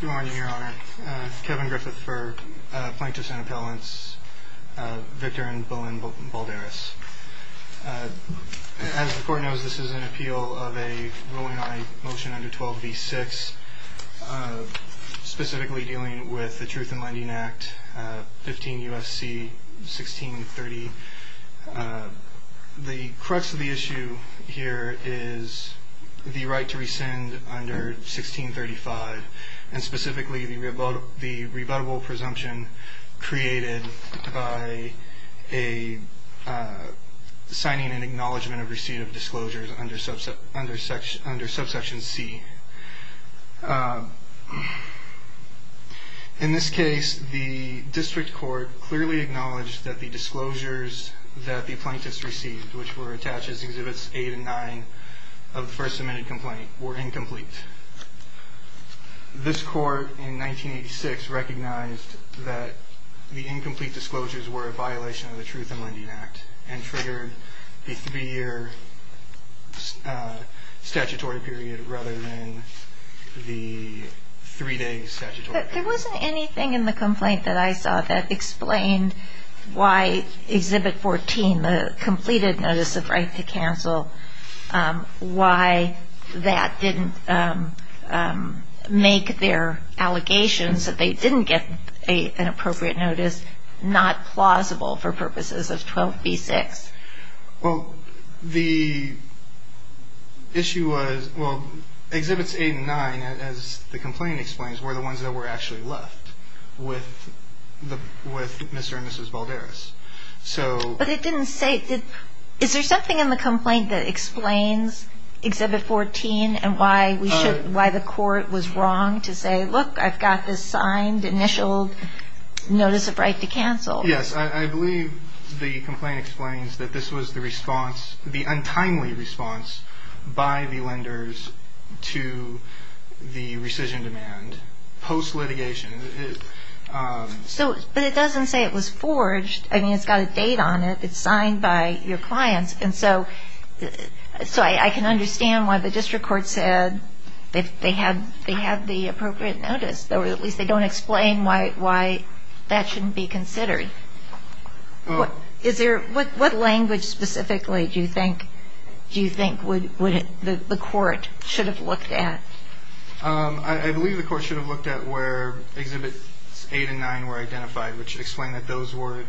Good morning, Your Honor. Kevin Griffith for Plaintiff's and Appellant's, Victor and Bolin Balderas. As the Court knows, this is an appeal of a rolling-eye motion under 12b-6, specifically dealing with the Truth in Lending Act, 15 U.S.C. 1630. The crux of the issue here is the right to rescind under 1635, and specifically the rebuttable presumption created by signing an acknowledgment of receipt of disclosures under subsection c. In this case, the District Court clearly acknowledged that the disclosures that the plaintiffs received, which were attached as Exhibits 8 and 9 of the first submitted complaint, were incomplete. This Court in 1986 recognized that the incomplete disclosures were a violation of the Truth in Lending Act and triggered the three-year statutory period rather than the three-day statutory period. There wasn't anything in the complaint that I saw that explained why Exhibit 14, the completed notice of right to cancel, why that didn't make their allegations that they didn't get an appropriate notice not plausible for purposes of 12b-6. Well, the issue was – well, Exhibits 8 and 9, as the complaint explains, were the ones that were actually left with Mr. and Mrs. Balderas. But it didn't say – is there something in the complaint that explains Exhibit 14 and why the Court was wrong to say, look, I've got this signed initial notice of right to cancel? Yes, I believe the complaint explains that this was the response, the untimely response, by the lenders to the rescission demand post-litigation. But it doesn't say it was forged. I mean, it's got a date on it. It's signed by your clients. And so I can understand why the district court said they had the appropriate notice, or at least they don't explain why that shouldn't be considered. What language specifically do you think the court should have looked at? I believe the court should have looked at where Exhibits 8 and 9 were identified, which explain that those were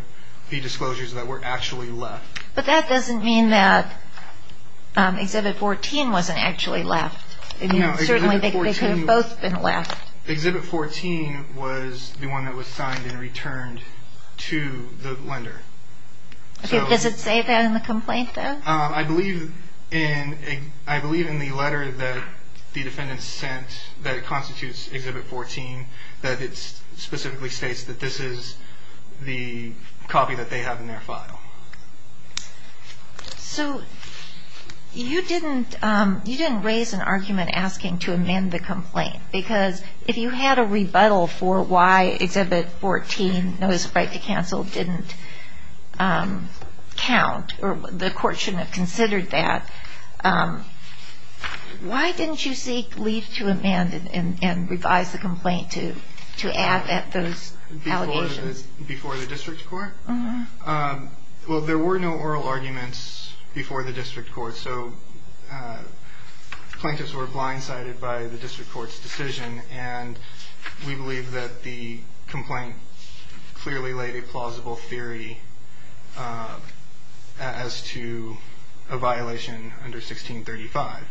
the disclosures that were actually left. But that doesn't mean that Exhibit 14 wasn't actually left. Certainly they could have both been left. Exhibit 14 was the one that was signed and returned to the lender. Does it say that in the complaint, though? I believe in the letter that the defendant sent that constitutes Exhibit 14 that it specifically states that this is the copy that they have in their file. So you didn't raise an argument asking to amend the complaint, because if you had a rebuttal for why Exhibit 14, Notice of Right to Cancel, didn't count, or the court shouldn't have considered that, why didn't you seek leave to amend and revise the complaint to add those allegations? Before the district court? Well, there were no oral arguments before the district court, so plaintiffs were blindsided by the district court's decision. We believe that the complaint clearly laid a plausible theory as to a violation under 1635.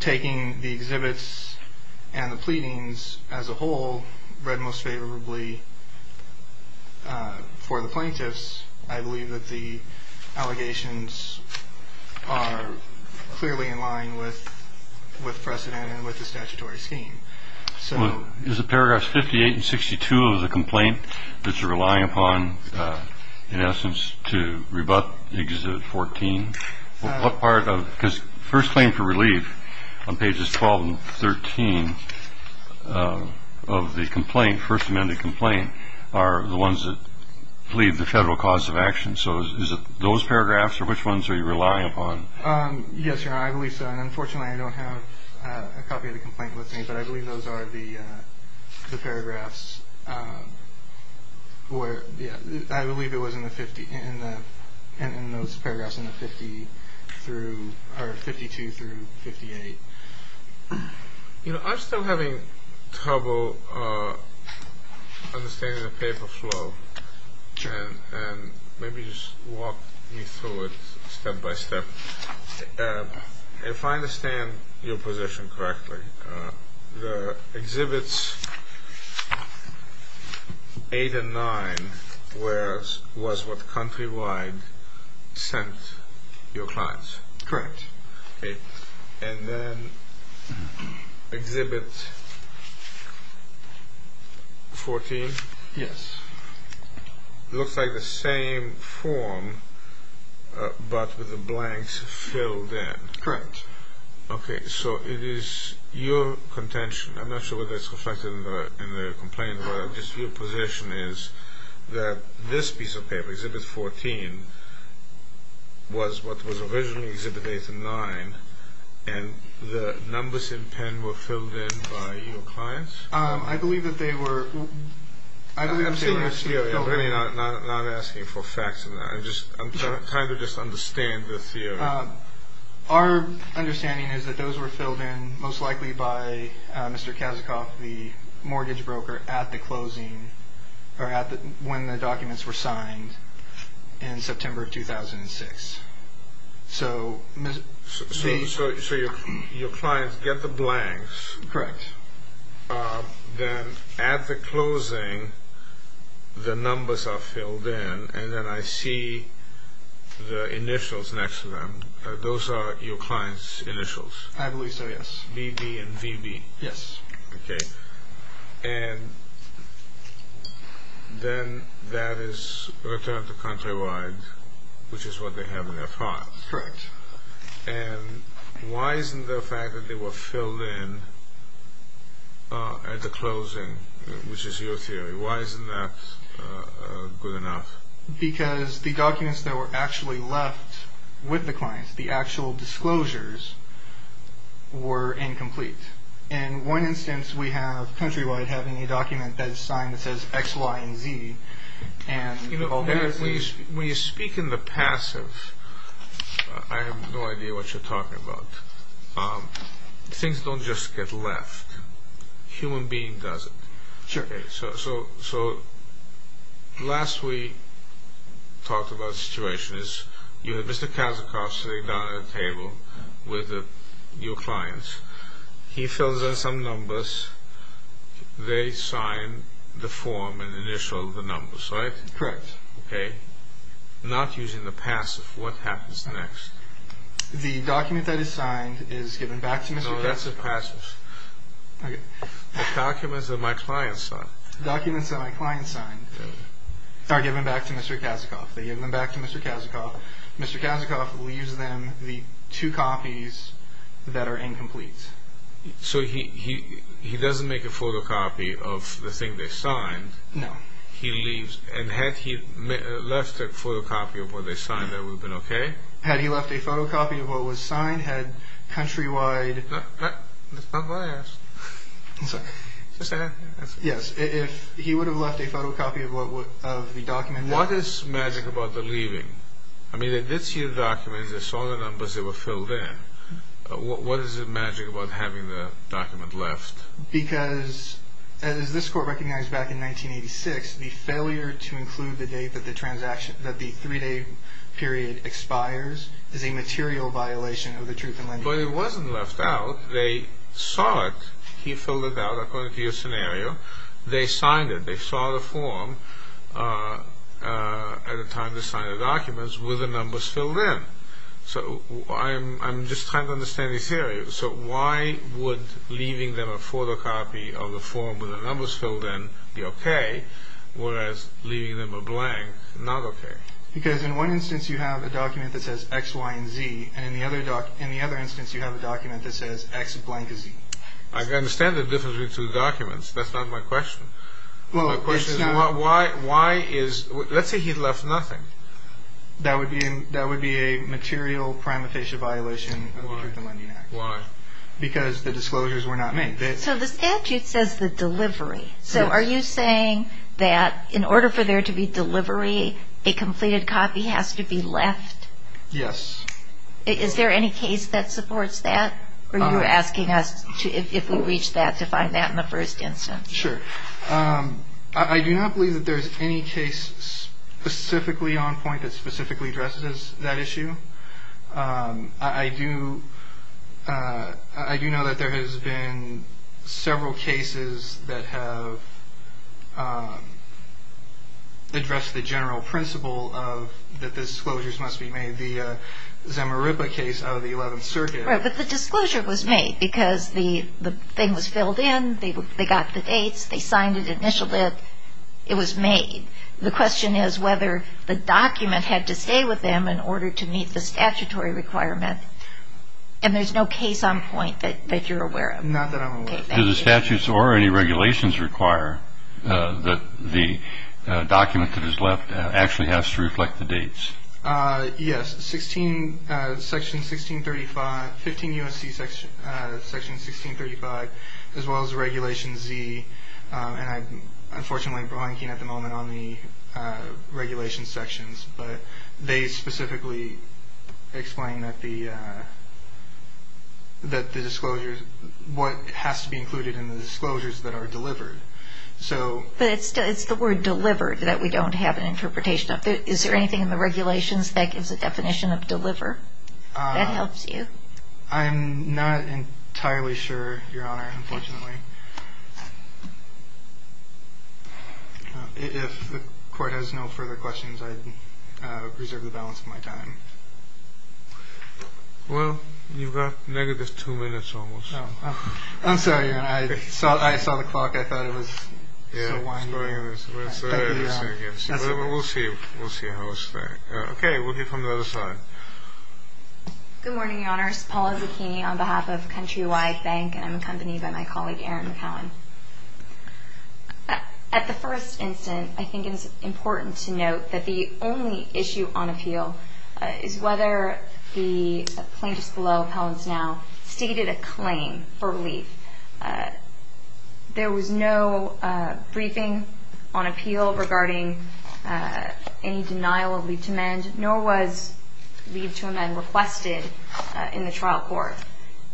Taking the exhibits and the pleadings as a whole, read most favorably for the plaintiffs, I believe that the allegations are clearly in line with precedent and with the statutory scheme. Is the paragraphs 58 and 62 of the complaint that you're relying upon, in essence, to rebut Exhibit 14? Because First Claim for Relief on pages 12 and 13 of the complaint, are the ones that plead the federal cause of action. So is it those paragraphs, or which ones are you relying upon? Yes, Your Honor, I believe so. And unfortunately, I don't have a copy of the complaint with me, but I believe those are the paragraphs where, yeah, I believe it was in the 50, in those paragraphs in the 52 through 58. You know, I'm still having trouble understanding the paper flow, and maybe just walk me through it step by step. If I understand your position correctly, the Exhibits 8 and 9 was what Countrywide sent your clients? Correct. And then Exhibit 14? Yes. Looks like the same form, but with the blanks filled in. Correct. Okay, so it is your contention, I'm not sure whether it's reflected in the complaint, but just your position is that this piece of paper, Exhibit 14, was what was originally Exhibit 8 and 9, and the numbers in pen were filled in by your clients? I believe that they were. I'm seeing your theory. I'm really not asking for facts in that. I'm trying to just understand the theory. Our understanding is that those were filled in most likely by Mr. Kazikoff, the mortgage broker, at the closing, or when the documents were signed in September of 2006. So your clients get the blanks. Correct. Then at the closing, the numbers are filled in, and then I see the initials next to them. Those are your clients' initials? I believe so, yes. BB and VB? Yes. Okay. And then that is returned to Countrywide, which is what they have in their files. Correct. And why isn't the fact that they were filled in at the closing, which is your theory, why isn't that good enough? Because the documents that were actually left with the clients, the actual disclosures, were incomplete. In one instance, we have Countrywide having a document that is signed that says X, Y, and Z. When you speak in the passive, I have no idea what you're talking about. Things don't just get left. A human being does it. Sure. So last we talked about situations, you had Mr. Kazikoff sitting down at a table with your clients. He fills in some numbers. They sign the form and initial the numbers, right? Correct. Okay. Not using the passive. What happens next? The document that is signed is given back to Mr. Kazikoff. No, that's a passive. Okay. The documents that my clients signed. The documents that my clients signed are given back to Mr. Kazikoff. They give them back to Mr. Kazikoff. Mr. Kazikoff leaves them the two copies that are incomplete. So he doesn't make a photocopy of the thing they signed? No. He leaves, and had he left a photocopy of what they signed, that would have been okay? Had he left a photocopy of what was signed? Had Countrywide... That's not what I asked. I'm sorry. Just ask. Yes, if he would have left a photocopy of the document... What is magic about the leaving? I mean, they did see the documents. They saw the numbers. They were filled in. What is the magic about having the document left? Because, as this court recognized back in 1986, the failure to include the date that the three-day period expires is a material violation of the truth in lending. But it wasn't left out. They saw it. He filled it out according to your scenario. They signed it. They saw the form at the time they signed the documents with the numbers filled in. So I'm just trying to understand your theory. So why would leaving them a photocopy of the form with the numbers filled in be okay, whereas leaving them a blank, not okay? Because in one instance you have a document that says X, Y, and Z, and in the other instance you have a document that says X, blank, and Z. I understand the difference between the two documents. That's not my question. My question is why is – let's say he left nothing. That would be a material prima facie violation of the Truth in Lending Act. Why? Because the disclosures were not made. So the statute says the delivery. So are you saying that in order for there to be delivery, a completed copy has to be left? Yes. Is there any case that supports that? Or are you asking us if we reach that to find that in the first instance? Sure. I do not believe that there is any case specifically on point that specifically addresses that issue. I do know that there has been several cases that have addressed the general principle that the disclosures must be made. But the disclosure was made because the thing was filled in, they got the dates, they signed it initially, it was made. The question is whether the document had to stay with them in order to meet the statutory requirement. And there's no case on point that you're aware of. Not that I'm aware of. Does the statute or any regulations require that the document that is left actually has to reflect the dates? Yes, Section 1635, 15 U.S.C. Section 1635, as well as Regulation Z. And I'm unfortunately blanking at the moment on the regulation sections. But they specifically explain that the disclosures, what has to be included in the disclosures that are delivered. But it's the word delivered that we don't have an interpretation of. Is there anything in the regulations that gives a definition of deliver that helps you? I'm not entirely sure, Your Honor, unfortunately. If the Court has no further questions, I'd reserve the balance of my time. Well, you've got negative two minutes almost. I'm sorry, I saw the clock, I thought it was so winding. Thank you, Your Honor. We'll see how it's going. Okay, we'll get from the other side. Good morning, Your Honors. Paula Zuchini on behalf of Countrywide Bank, and I'm accompanied by my colleague, Aaron McCowan. At the first instant, I think it's important to note that the only issue on appeal is whether the plaintiffs below, appellants now, stated a claim for relief. There was no briefing on appeal regarding any denial of leave to amend, nor was leave to amend requested in the trial court.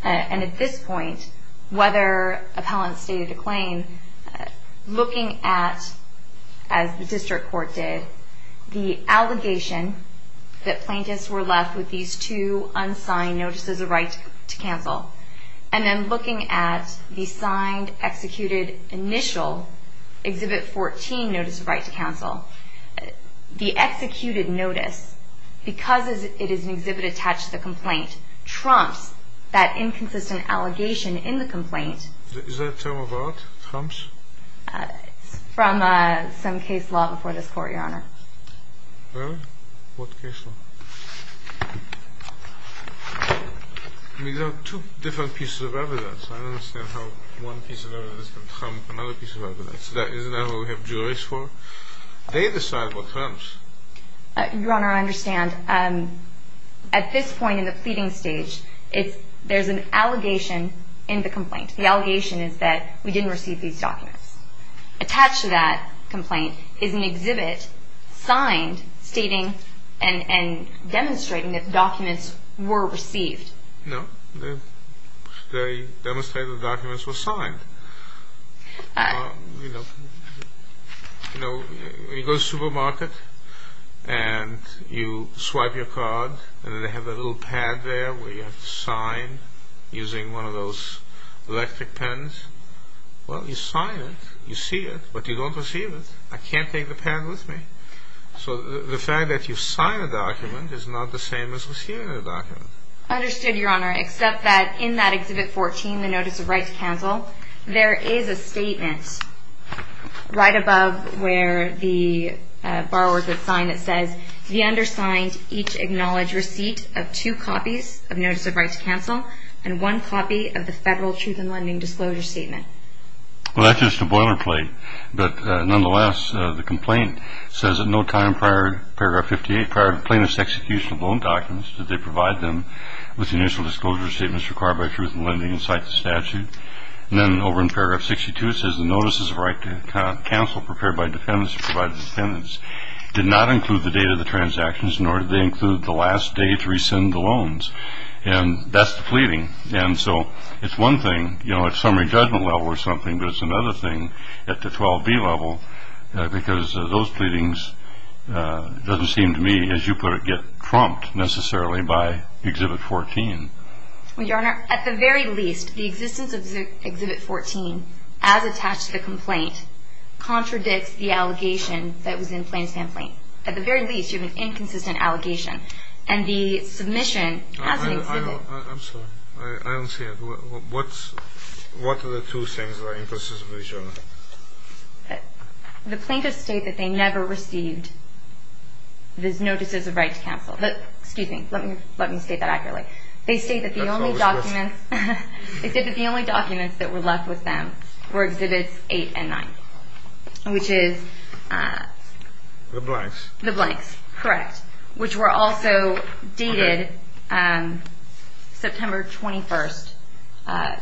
And at this point, whether appellants stated a claim, looking at, as the district court did, the allegation that plaintiffs were left with these two unsigned notices of right to cancel, and then looking at the signed, executed, initial, Exhibit 14 notice of right to cancel, the executed notice, because it is an exhibit attached to the complaint, trumps that inconsistent allegation in the complaint. Is that a term of art, trumps? It's from some case law before this court, Your Honor. Really? What case law? These are two different pieces of evidence. I don't understand how one piece of evidence can trump another piece of evidence. Isn't that what we have juries for? They decide what trumps. Your Honor, I understand. At this point in the pleading stage, there's an allegation in the complaint. The allegation is that we didn't receive these documents. Attached to that complaint is an exhibit signed, stating and demonstrating that documents were received. No, they demonstrated the documents were signed. You go to the supermarket, and you swipe your card, and then they have that little pad there where you have to sign using one of those electric pens. Well, you sign it, you see it, but you don't receive it. I can't take the pen with me. So the fact that you sign a document is not the same as receiving a document. Understood, Your Honor, except that in that Exhibit 14, the Notice of Right to Cancel, there is a statement right above where the borrowers would sign that says, the undersigned each acknowledge receipt of two copies of Notice of Right to Cancel and one copy of the Federal Truth in Lending Disclosure Statement. Well, that's just a boilerplate. But nonetheless, the complaint says that no time prior to Paragraph 58, prior to plaintiff's execution of loan documents, did they provide them with the initial disclosure statements required by Truth in Lending and cite the statute. And then over in Paragraph 62, it says the Notice of Right to Cancel prepared by defendants to provide to defendants did not include the date of the transactions, nor did they include the last day to rescind the loans. And that's the pleading. And so it's one thing, you know, at summary judgment level or something, but it's another thing at the 12B level, because those pleadings doesn't seem to me, as you put it, get trumped necessarily by Exhibit 14. Well, Your Honor, at the very least, the existence of Exhibit 14, as attached to the complaint, contradicts the allegation that was in Plainstamp Lane. At the very least, you have an inconsistent allegation. And the submission has an exhibit. I'm sorry. I don't see it. What are the two things that are inconsistent with each other? The plaintiffs state that they never received the Notices of Right to Cancel. Excuse me. Let me state that accurately. They state that the only documents that were left with them were Exhibits 8 and 9, which is? The blanks. The blanks, correct. Which were also dated September 21,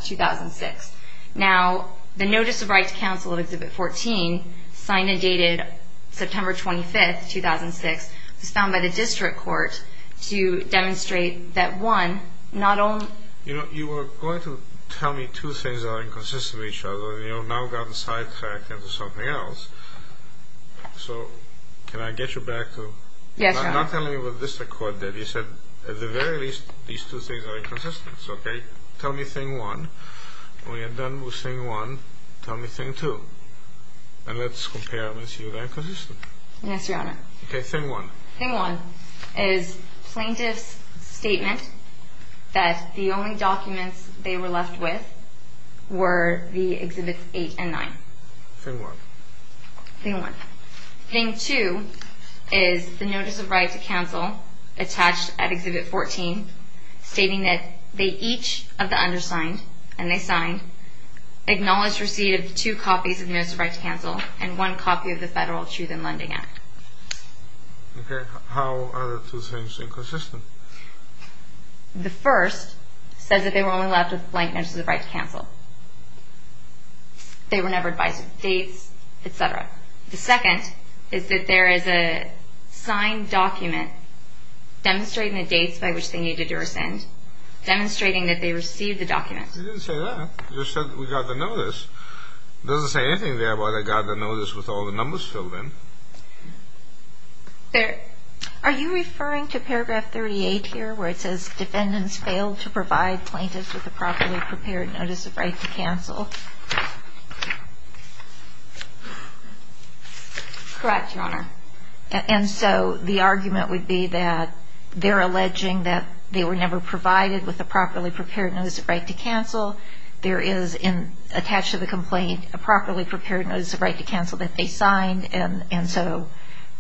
2006. Now, the Notice of Right to Cancel of Exhibit 14, signed and dated September 25, 2006, was found by the district court to demonstrate that, one, not only You know, you were going to tell me two things that are inconsistent with each other, and you've now gotten sidetracked into something else. So can I get you back to? Yes, Your Honor. I'm not telling you what the district court did. You said, at the very least, these two things are inconsistent. Okay? Tell me Thing 1. When you're done with Thing 1, tell me Thing 2. And let's compare and see if they're inconsistent. Yes, Your Honor. Okay, Thing 1. Thing 1 is the plaintiff's statement that the only documents they were left with were the Exhibits 8 and 9. Thing 1. Thing 1. Thing 2 is the Notice of Right to Cancel attached at Exhibit 14, stating that they each of the undersigned, and they signed, acknowledged receipt of two copies of the Notice of Right to Cancel and one copy of the Federal Truth in Lending Act. Okay. How are the two things inconsistent? The first says that they were only left with a blank Notice of Right to Cancel. They were never advised of dates, et cetera. The second is that there is a signed document demonstrating the dates by which they needed to rescind, demonstrating that they received the document. It didn't say that. It just said that we got the notice. It doesn't say anything there about I got the notice with all the numbers filled in. Are you referring to Paragraph 38 here, where it says defendants failed to provide plaintiffs with a properly prepared Notice of Right to Cancel? Correct, Your Honor. And so the argument would be that they're alleging that they were never provided with a properly prepared Notice of Right to Cancel. There is attached to the complaint a properly prepared Notice of Right to Cancel that they signed, and so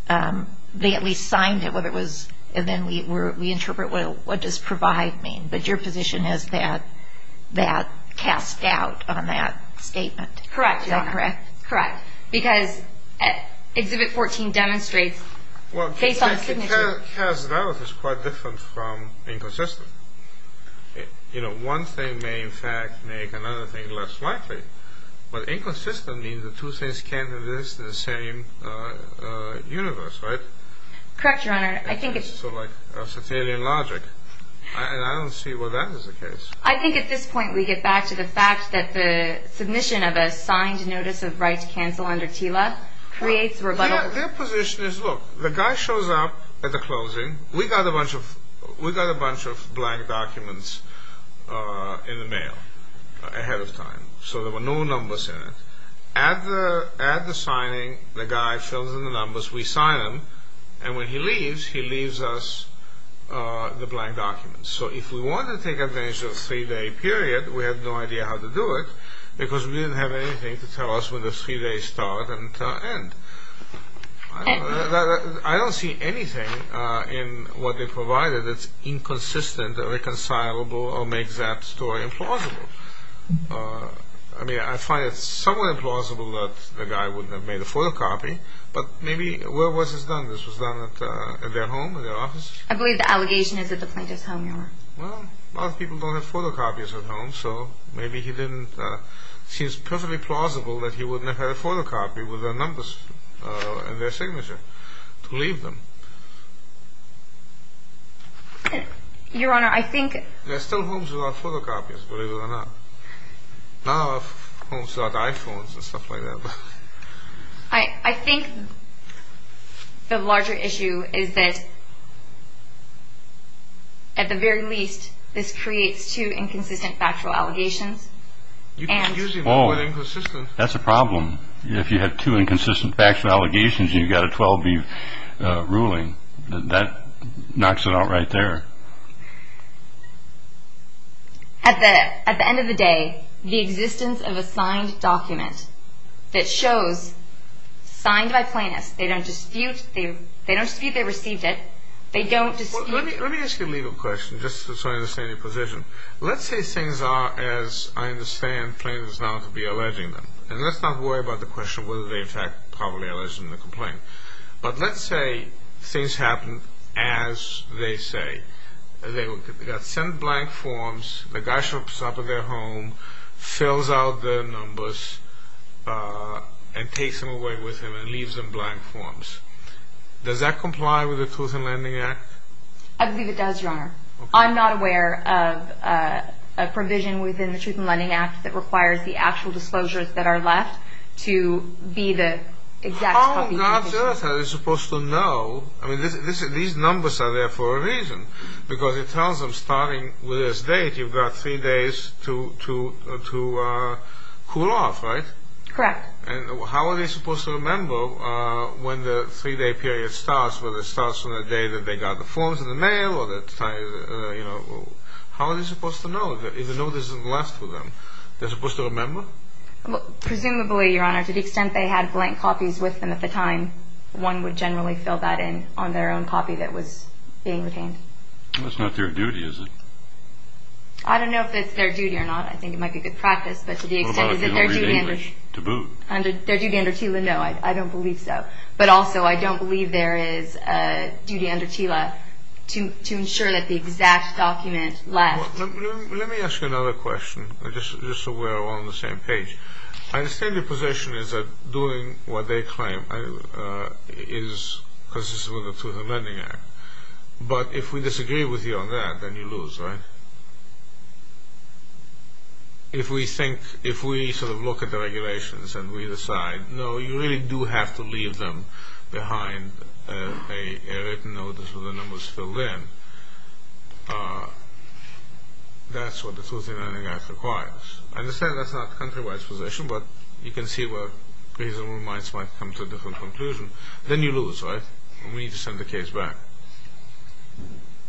they at least signed it, and then we interpret what does provide mean. But your position is that that cast doubt on that statement. Correct, Your Honor. Is that correct? Correct, because Exhibit 14 demonstrates face-on signature. Well, cast doubt is quite different from inconsistent. You know, one thing may, in fact, make another thing less likely, but inconsistent means the two things can't exist in the same universe, right? Correct, Your Honor. I think it's sort of like Sartelian logic, and I don't see where that is the case. I think at this point we get back to the fact that the submission of a signed Notice of Right to Cancel under TILA creates rebuttal. Their position is, look, the guy shows up at the closing. We got a bunch of blank documents in the mail ahead of time, so there were no numbers in it. At the signing, the guy fills in the numbers, we sign them, and when he leaves, he leaves us the blank documents. So if we want to take advantage of a three-day period, we have no idea how to do it because we didn't have anything to tell us when the three days start and end. I don't see anything in what they provided that's inconsistent or reconcilable or makes that story implausible. I mean, I find it somewhat implausible that the guy would have made a photocopy, but maybe, where was this done? This was done at their home, at their office? I believe the allegation is at the plaintiff's home, Your Honor. Well, a lot of people don't have photocopies at home, so maybe he didn't, it seems perfectly plausible that he wouldn't have had a photocopy with their numbers and their signature to leave them. Your Honor, I think There are still homes without photocopies, believe it or not. Now, homes without iPhones and stuff like that. I think the larger issue is that, at the very least, this creates two inconsistent factual allegations. You can use the word inconsistent. That's a problem. If you had two inconsistent factual allegations and you got a 12-B ruling, that knocks it out right there. At the end of the day, the existence of a signed document that shows, signed by plaintiffs, they don't dispute they received it, they don't dispute Let me ask you a legal question, just so I understand your position. Let's say things are as I understand plaintiffs now to be alleging them. And let's not worry about the question of whether they in fact probably alleged in the complaint. But let's say things happen as they say. They got sent blank forms. The guy shows up at their home, fills out their numbers, and takes them away with him and leaves them blank forms. Does that comply with the Truth in Lending Act? I believe it does, Your Honor. I'm not aware of a provision within the Truth in Lending Act that requires the actual disclosures that are left to be the exact copy. How are they supposed to know? I mean, these numbers are there for a reason. Because it tells them starting with this date, you've got three days to cool off, right? Correct. And how are they supposed to remember when the three-day period starts, whether it starts from the day that they got the forms in the mail? How are they supposed to know if the notice isn't left to them? They're supposed to remember? Presumably, Your Honor, to the extent they had blank copies with them at the time, one would generally fill that in on their own copy that was being retained. That's not their duty, is it? I don't know if it's their duty or not. I think it might be good practice. What about if you don't read English to boot? Their duty under TILA, no, I don't believe so. But also I don't believe there is a duty under TILA to ensure that the exact document left. Let me ask you another question, just so we're all on the same page. I understand your position is that doing what they claim is consistent with the Truth in Lending Act. But if we disagree with you on that, then you lose, right? If we think, if we sort of look at the regulations and we decide, no, you really do have to leave them behind a written notice with the numbers filled in, that's what the Truth in Lending Act requires. I understand that's not the country-wide position, but you can see where reasonable minds might come to a different conclusion. Then you lose, right? We need to send the case back.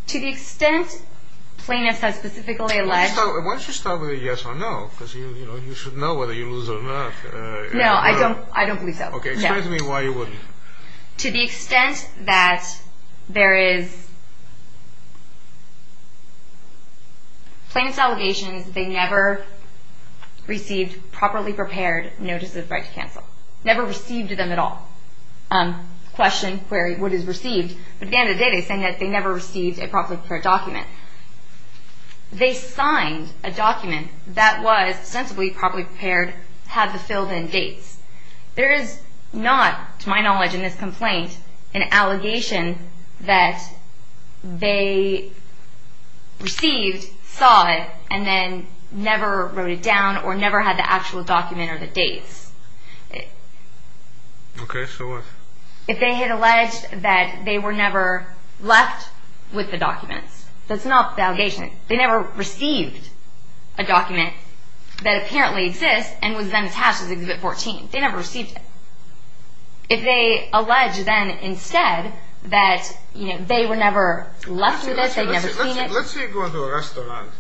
To the extent plaintiffs have specifically alleged... Why don't you start with a yes or no, because you should know whether you lose or not. No, I don't believe so. Okay, explain to me why you wouldn't. To the extent that there is... Plaintiff's allegation is that they never received properly prepared notices of right to cancel. Never received them at all. Question, query, what is received. But at the end of the day, they're saying that they never received a properly prepared document. They signed a document that was sensibly properly prepared, had the filled in dates. There is not, to my knowledge in this complaint, an allegation that they received, saw it, and then never wrote it down or never had the actual document or the dates. Okay, so what? If they had alleged that they were never left with the documents, that's not the allegation. They never received a document that apparently exists and was then attached to Exhibit 14. They never received it. If they allege then instead that they were never left with it, they'd never seen it... Let's say you go into a restaurant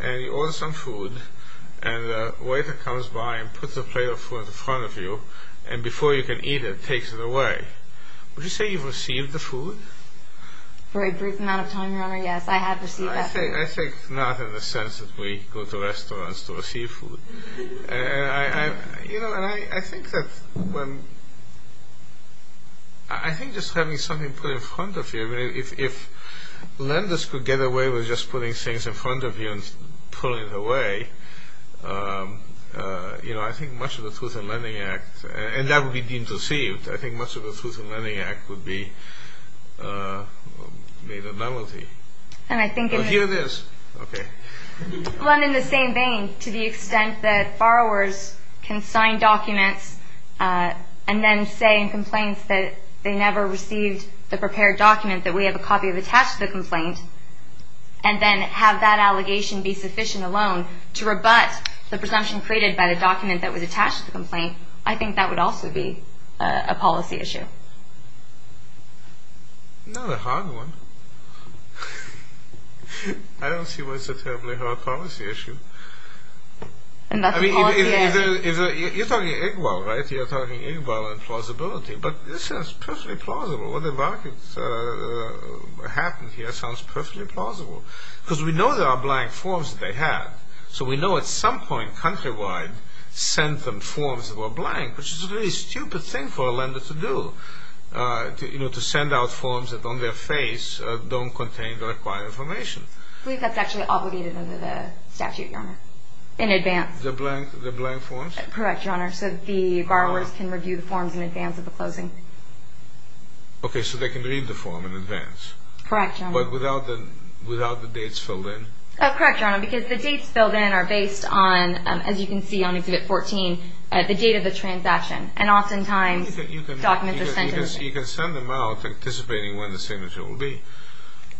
and you order some food, and a waiter comes by and puts a plate of food in front of you, and before you can eat it, takes it away. Would you say you've received the food? For a brief amount of time, Your Honor, yes. I have received that food. I say not in the sense that we go to restaurants to receive food. And I think that when... I think just having something put in front of you, if lenders could get away with just putting things in front of you and pulling it away, I think much of the Truth in Lending Act, and that would be deemed deceived, I think much of the Truth in Lending Act would be made a novelty. And I think... Well, here it is. Okay. Well, and in the same vein, to the extent that borrowers can sign documents and then say in complaints that they never received the prepared document, that we have a copy attached to the complaint, and then have that allegation be sufficient alone to rebut the presumption created by the document that was attached to the complaint, I think that would also be a policy issue. Not a hard one. I don't see why it's a terribly hard policy issue. I mean, you're talking IGWAL, right? You're talking IGWAL and plausibility. But this sounds perfectly plausible. What happened here sounds perfectly plausible. Because we know there are blank forms that they have. So we know at some point countrywide sent them forms that were blank, which is a really stupid thing for a lender to do, to send out forms that on their face don't contain the required information. I believe that's actually obligated under the statute, Your Honor, in advance. The blank forms? Correct, Your Honor. So the borrowers can review the forms in advance of the closing. Okay, so they can read the form in advance. Correct, Your Honor. But without the dates filled in? Correct, Your Honor, because the dates filled in are based on, as you can see on Exhibit 14, the date of the transaction. And oftentimes documents are sent to them. You can send them out anticipating when the signature will be.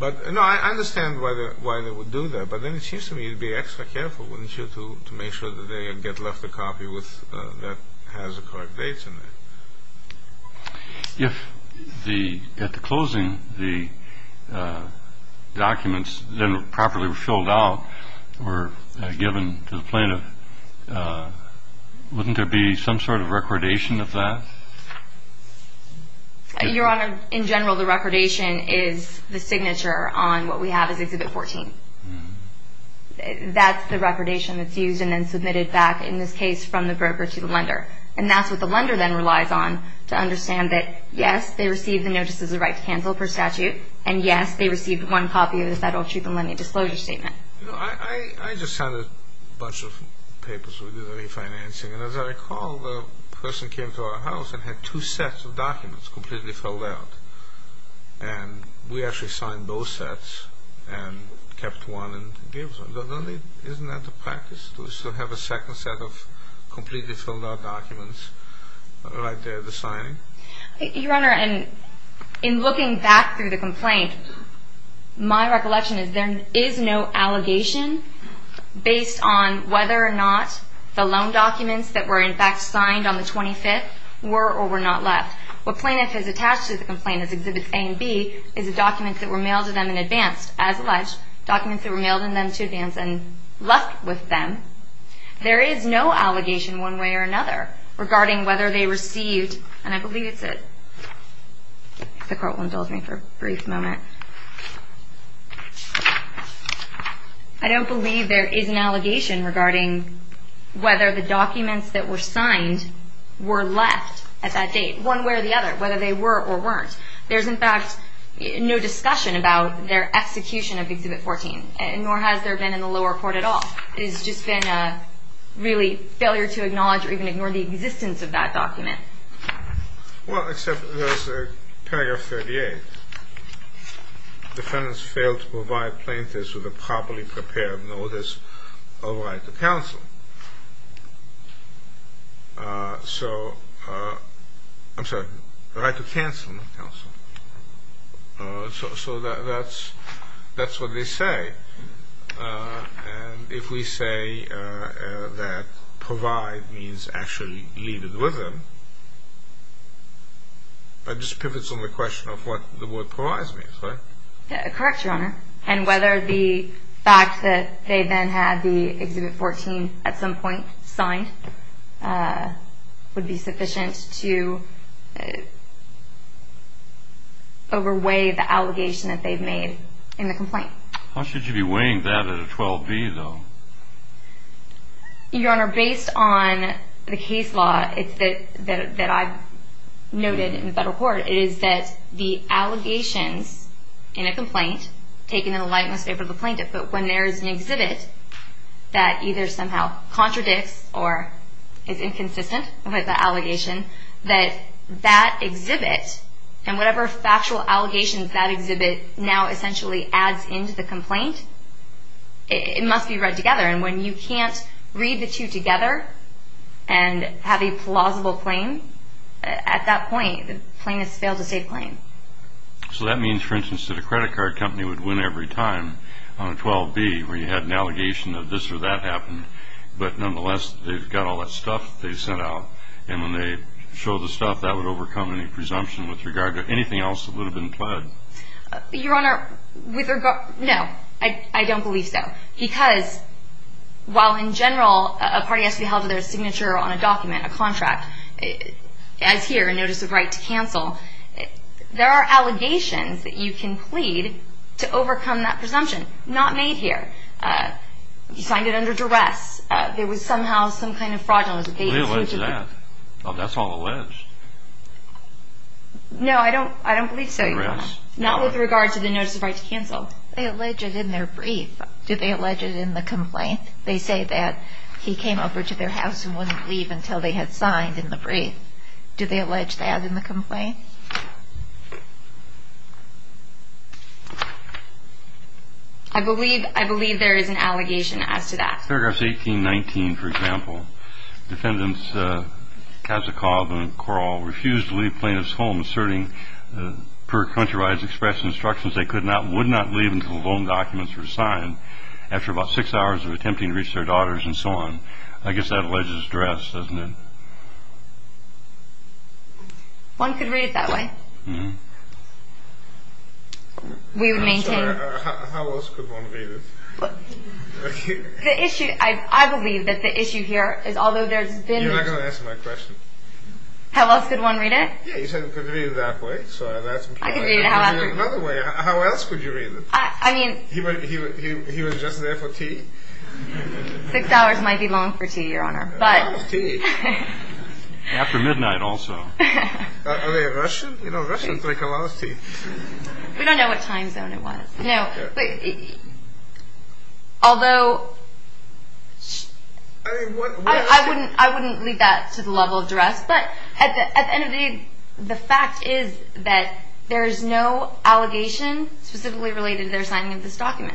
No, I understand why they would do that. But then it seems to me you'd be extra careful, wouldn't you, to make sure that they get left a copy that has the correct dates in it. If at the closing the documents then were properly filled out or given to the plaintiff, wouldn't there be some sort of recordation of that? Your Honor, in general, the recordation is the signature on what we have as Exhibit 14. That's the recordation that's used and then submitted back, in this case, from the broker to the lender. And that's what the lender then relies on to understand that, yes, they received the notices of right to cancel per statute, and, yes, they received one copy of the Federal Truth in Lending Disclosure Statement. I just had a bunch of papers with refinancing, and as I recall the person came to our house and had two sets of documents completely filled out. And we actually signed both sets and kept one and gave it to them. Isn't that the practice, to have a second set of completely filled out documents right there to sign? Your Honor, in looking back through the complaint, my recollection is there is no allegation based on whether or not the loan documents that were in fact signed on the 25th were or were not left. What plaintiff has attached to the complaint as Exhibits A and B is the documents that were mailed to them in advance, as alleged, documents that were mailed in them to advance and left with them. There is no allegation one way or another regarding whether they received, and I believe it's a, if the Court will indulge me for a brief moment. I don't believe there is an allegation regarding whether the documents that were signed were left at that date, one way or the other, whether they were or weren't. There is, in fact, no discussion about their execution of Exhibit 14, nor has there been in the lower court at all. It has just been a really failure to acknowledge or even ignore the existence of that document. Well, except there is paragraph 38. Defendants failed to provide plaintiffs with a properly prepared notice of right to counsel. So, I'm sorry, right to counsel, not counsel. So that's what they say. And if we say that provide means actually leave it with them, that just pivots on the question of what the word provide means, right? Correct, Your Honor. And whether the fact that they then had the Exhibit 14 at some point signed would be sufficient to overweigh the allegation that they've made in the complaint. How should you be weighing that at a 12-B, though? Your Honor, based on the case law that I've noted in the federal court, it is that the allegations in a complaint taken in the light and most favor of the plaintiff, but when there is an exhibit that either somehow contradicts or is inconsistent with the allegation, that that exhibit and whatever factual allegations that exhibit now essentially adds into the complaint, it must be read together. And when you can't read the two together and have a plausible claim, at that point the plaintiff has failed to save the claim. So that means, for instance, that a credit card company would win every time on a 12-B where you had an allegation that this or that happened, but nonetheless they've got all that stuff they sent out, and when they show the stuff that would overcome any presumption with regard to anything else that would have been pled. Your Honor, no, I don't believe so, because while in general a party has to be held to their signature on a document, a contract, as here, a notice of right to cancel, there are allegations that you can plead to overcome that presumption. Not made here. You signed it under duress. There was somehow some kind of fraudulence. We allege that. That's all alleged. No, I don't believe so, Your Honor. Not with regard to the notice of right to cancel. They allege it in their brief. Do they allege it in the complaint? They say that he came over to their house and wouldn't leave until they had signed in the brief. Do they allege that in the complaint? I believe there is an allegation as to that. Paragraphs 18 and 19, for example, defendants Kazakoff and Korall refused to leave plaintiffs' homes, asserting per Countrywide Express instructions they would not leave until the loan documents were signed. After about six hours of attempting to reach their daughters and so on. I guess that alleges duress, doesn't it? One could read it that way. How else could one read it? I believe that the issue here is, although there's been... You're not going to answer my question. How else could one read it? Yeah, you said you could read it that way. I could read it another way. How else could you read it? I mean... He was just there for tea? Six hours might be long for tea, Your Honor, but... After midnight also. Are they Russian? You know, Russians like a lot of tea. We don't know what time zone it was. No, but... Although... I wouldn't leave that to the level of duress, but at the end of the day, the fact is that there is no allegation specifically related to their signing of this document.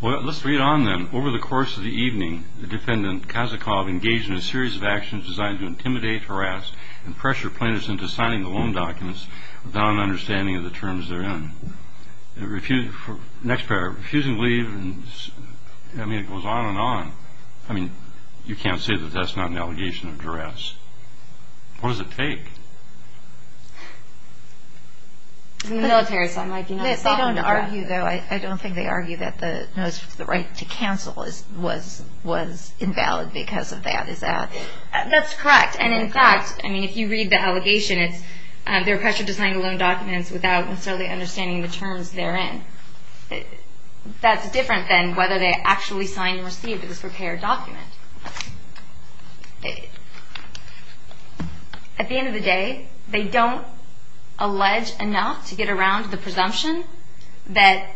Well, let's read on then. Over the course of the evening, the defendant, Kazakov, engaged in a series of actions designed to intimidate, harass, and pressure plaintiffs into signing the loan documents without an understanding of the terms therein. Next paragraph. Refusing to leave and... I mean, it goes on and on. I mean, you can't say that that's not an allegation of duress. What does it take? It's a military sign. They don't argue, though. I don't think they argue that the right to cancel was invalid because of that. Is that...? That's correct. And in fact, I mean, if you read the allegation, they were pressured to sign the loan documents without necessarily understanding the terms therein. That's different than whether they actually signed and received it. It's a prepared document. At the end of the day, they don't allege enough to get around the presumption that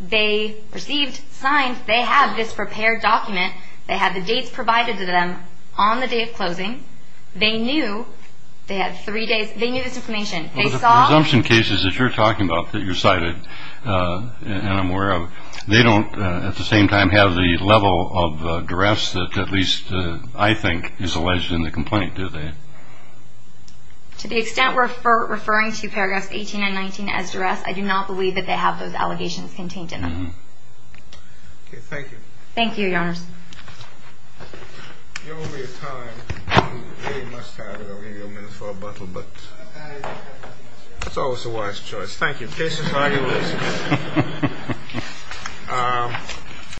they received, signed. They have this prepared document. They have the dates provided to them on the day of closing. They knew. They had three days. They knew this information. They saw... Well, the presumption cases that you're talking about, that you cited, and I'm aware of, they don't, at the same time, have the level of duress that at least I think is alleged in the complaint, do they? To the extent we're referring to paragraphs 18 and 19 as duress, I do not believe that they have those allegations contained in them. Okay. Thank you. Thank you, Your Honor. You owe me a time. You really must have it. I'm going to give you a minute for a bottle, but... I... It's always the wise choice. Thank you. Case is argued. Thank you, Mr. President.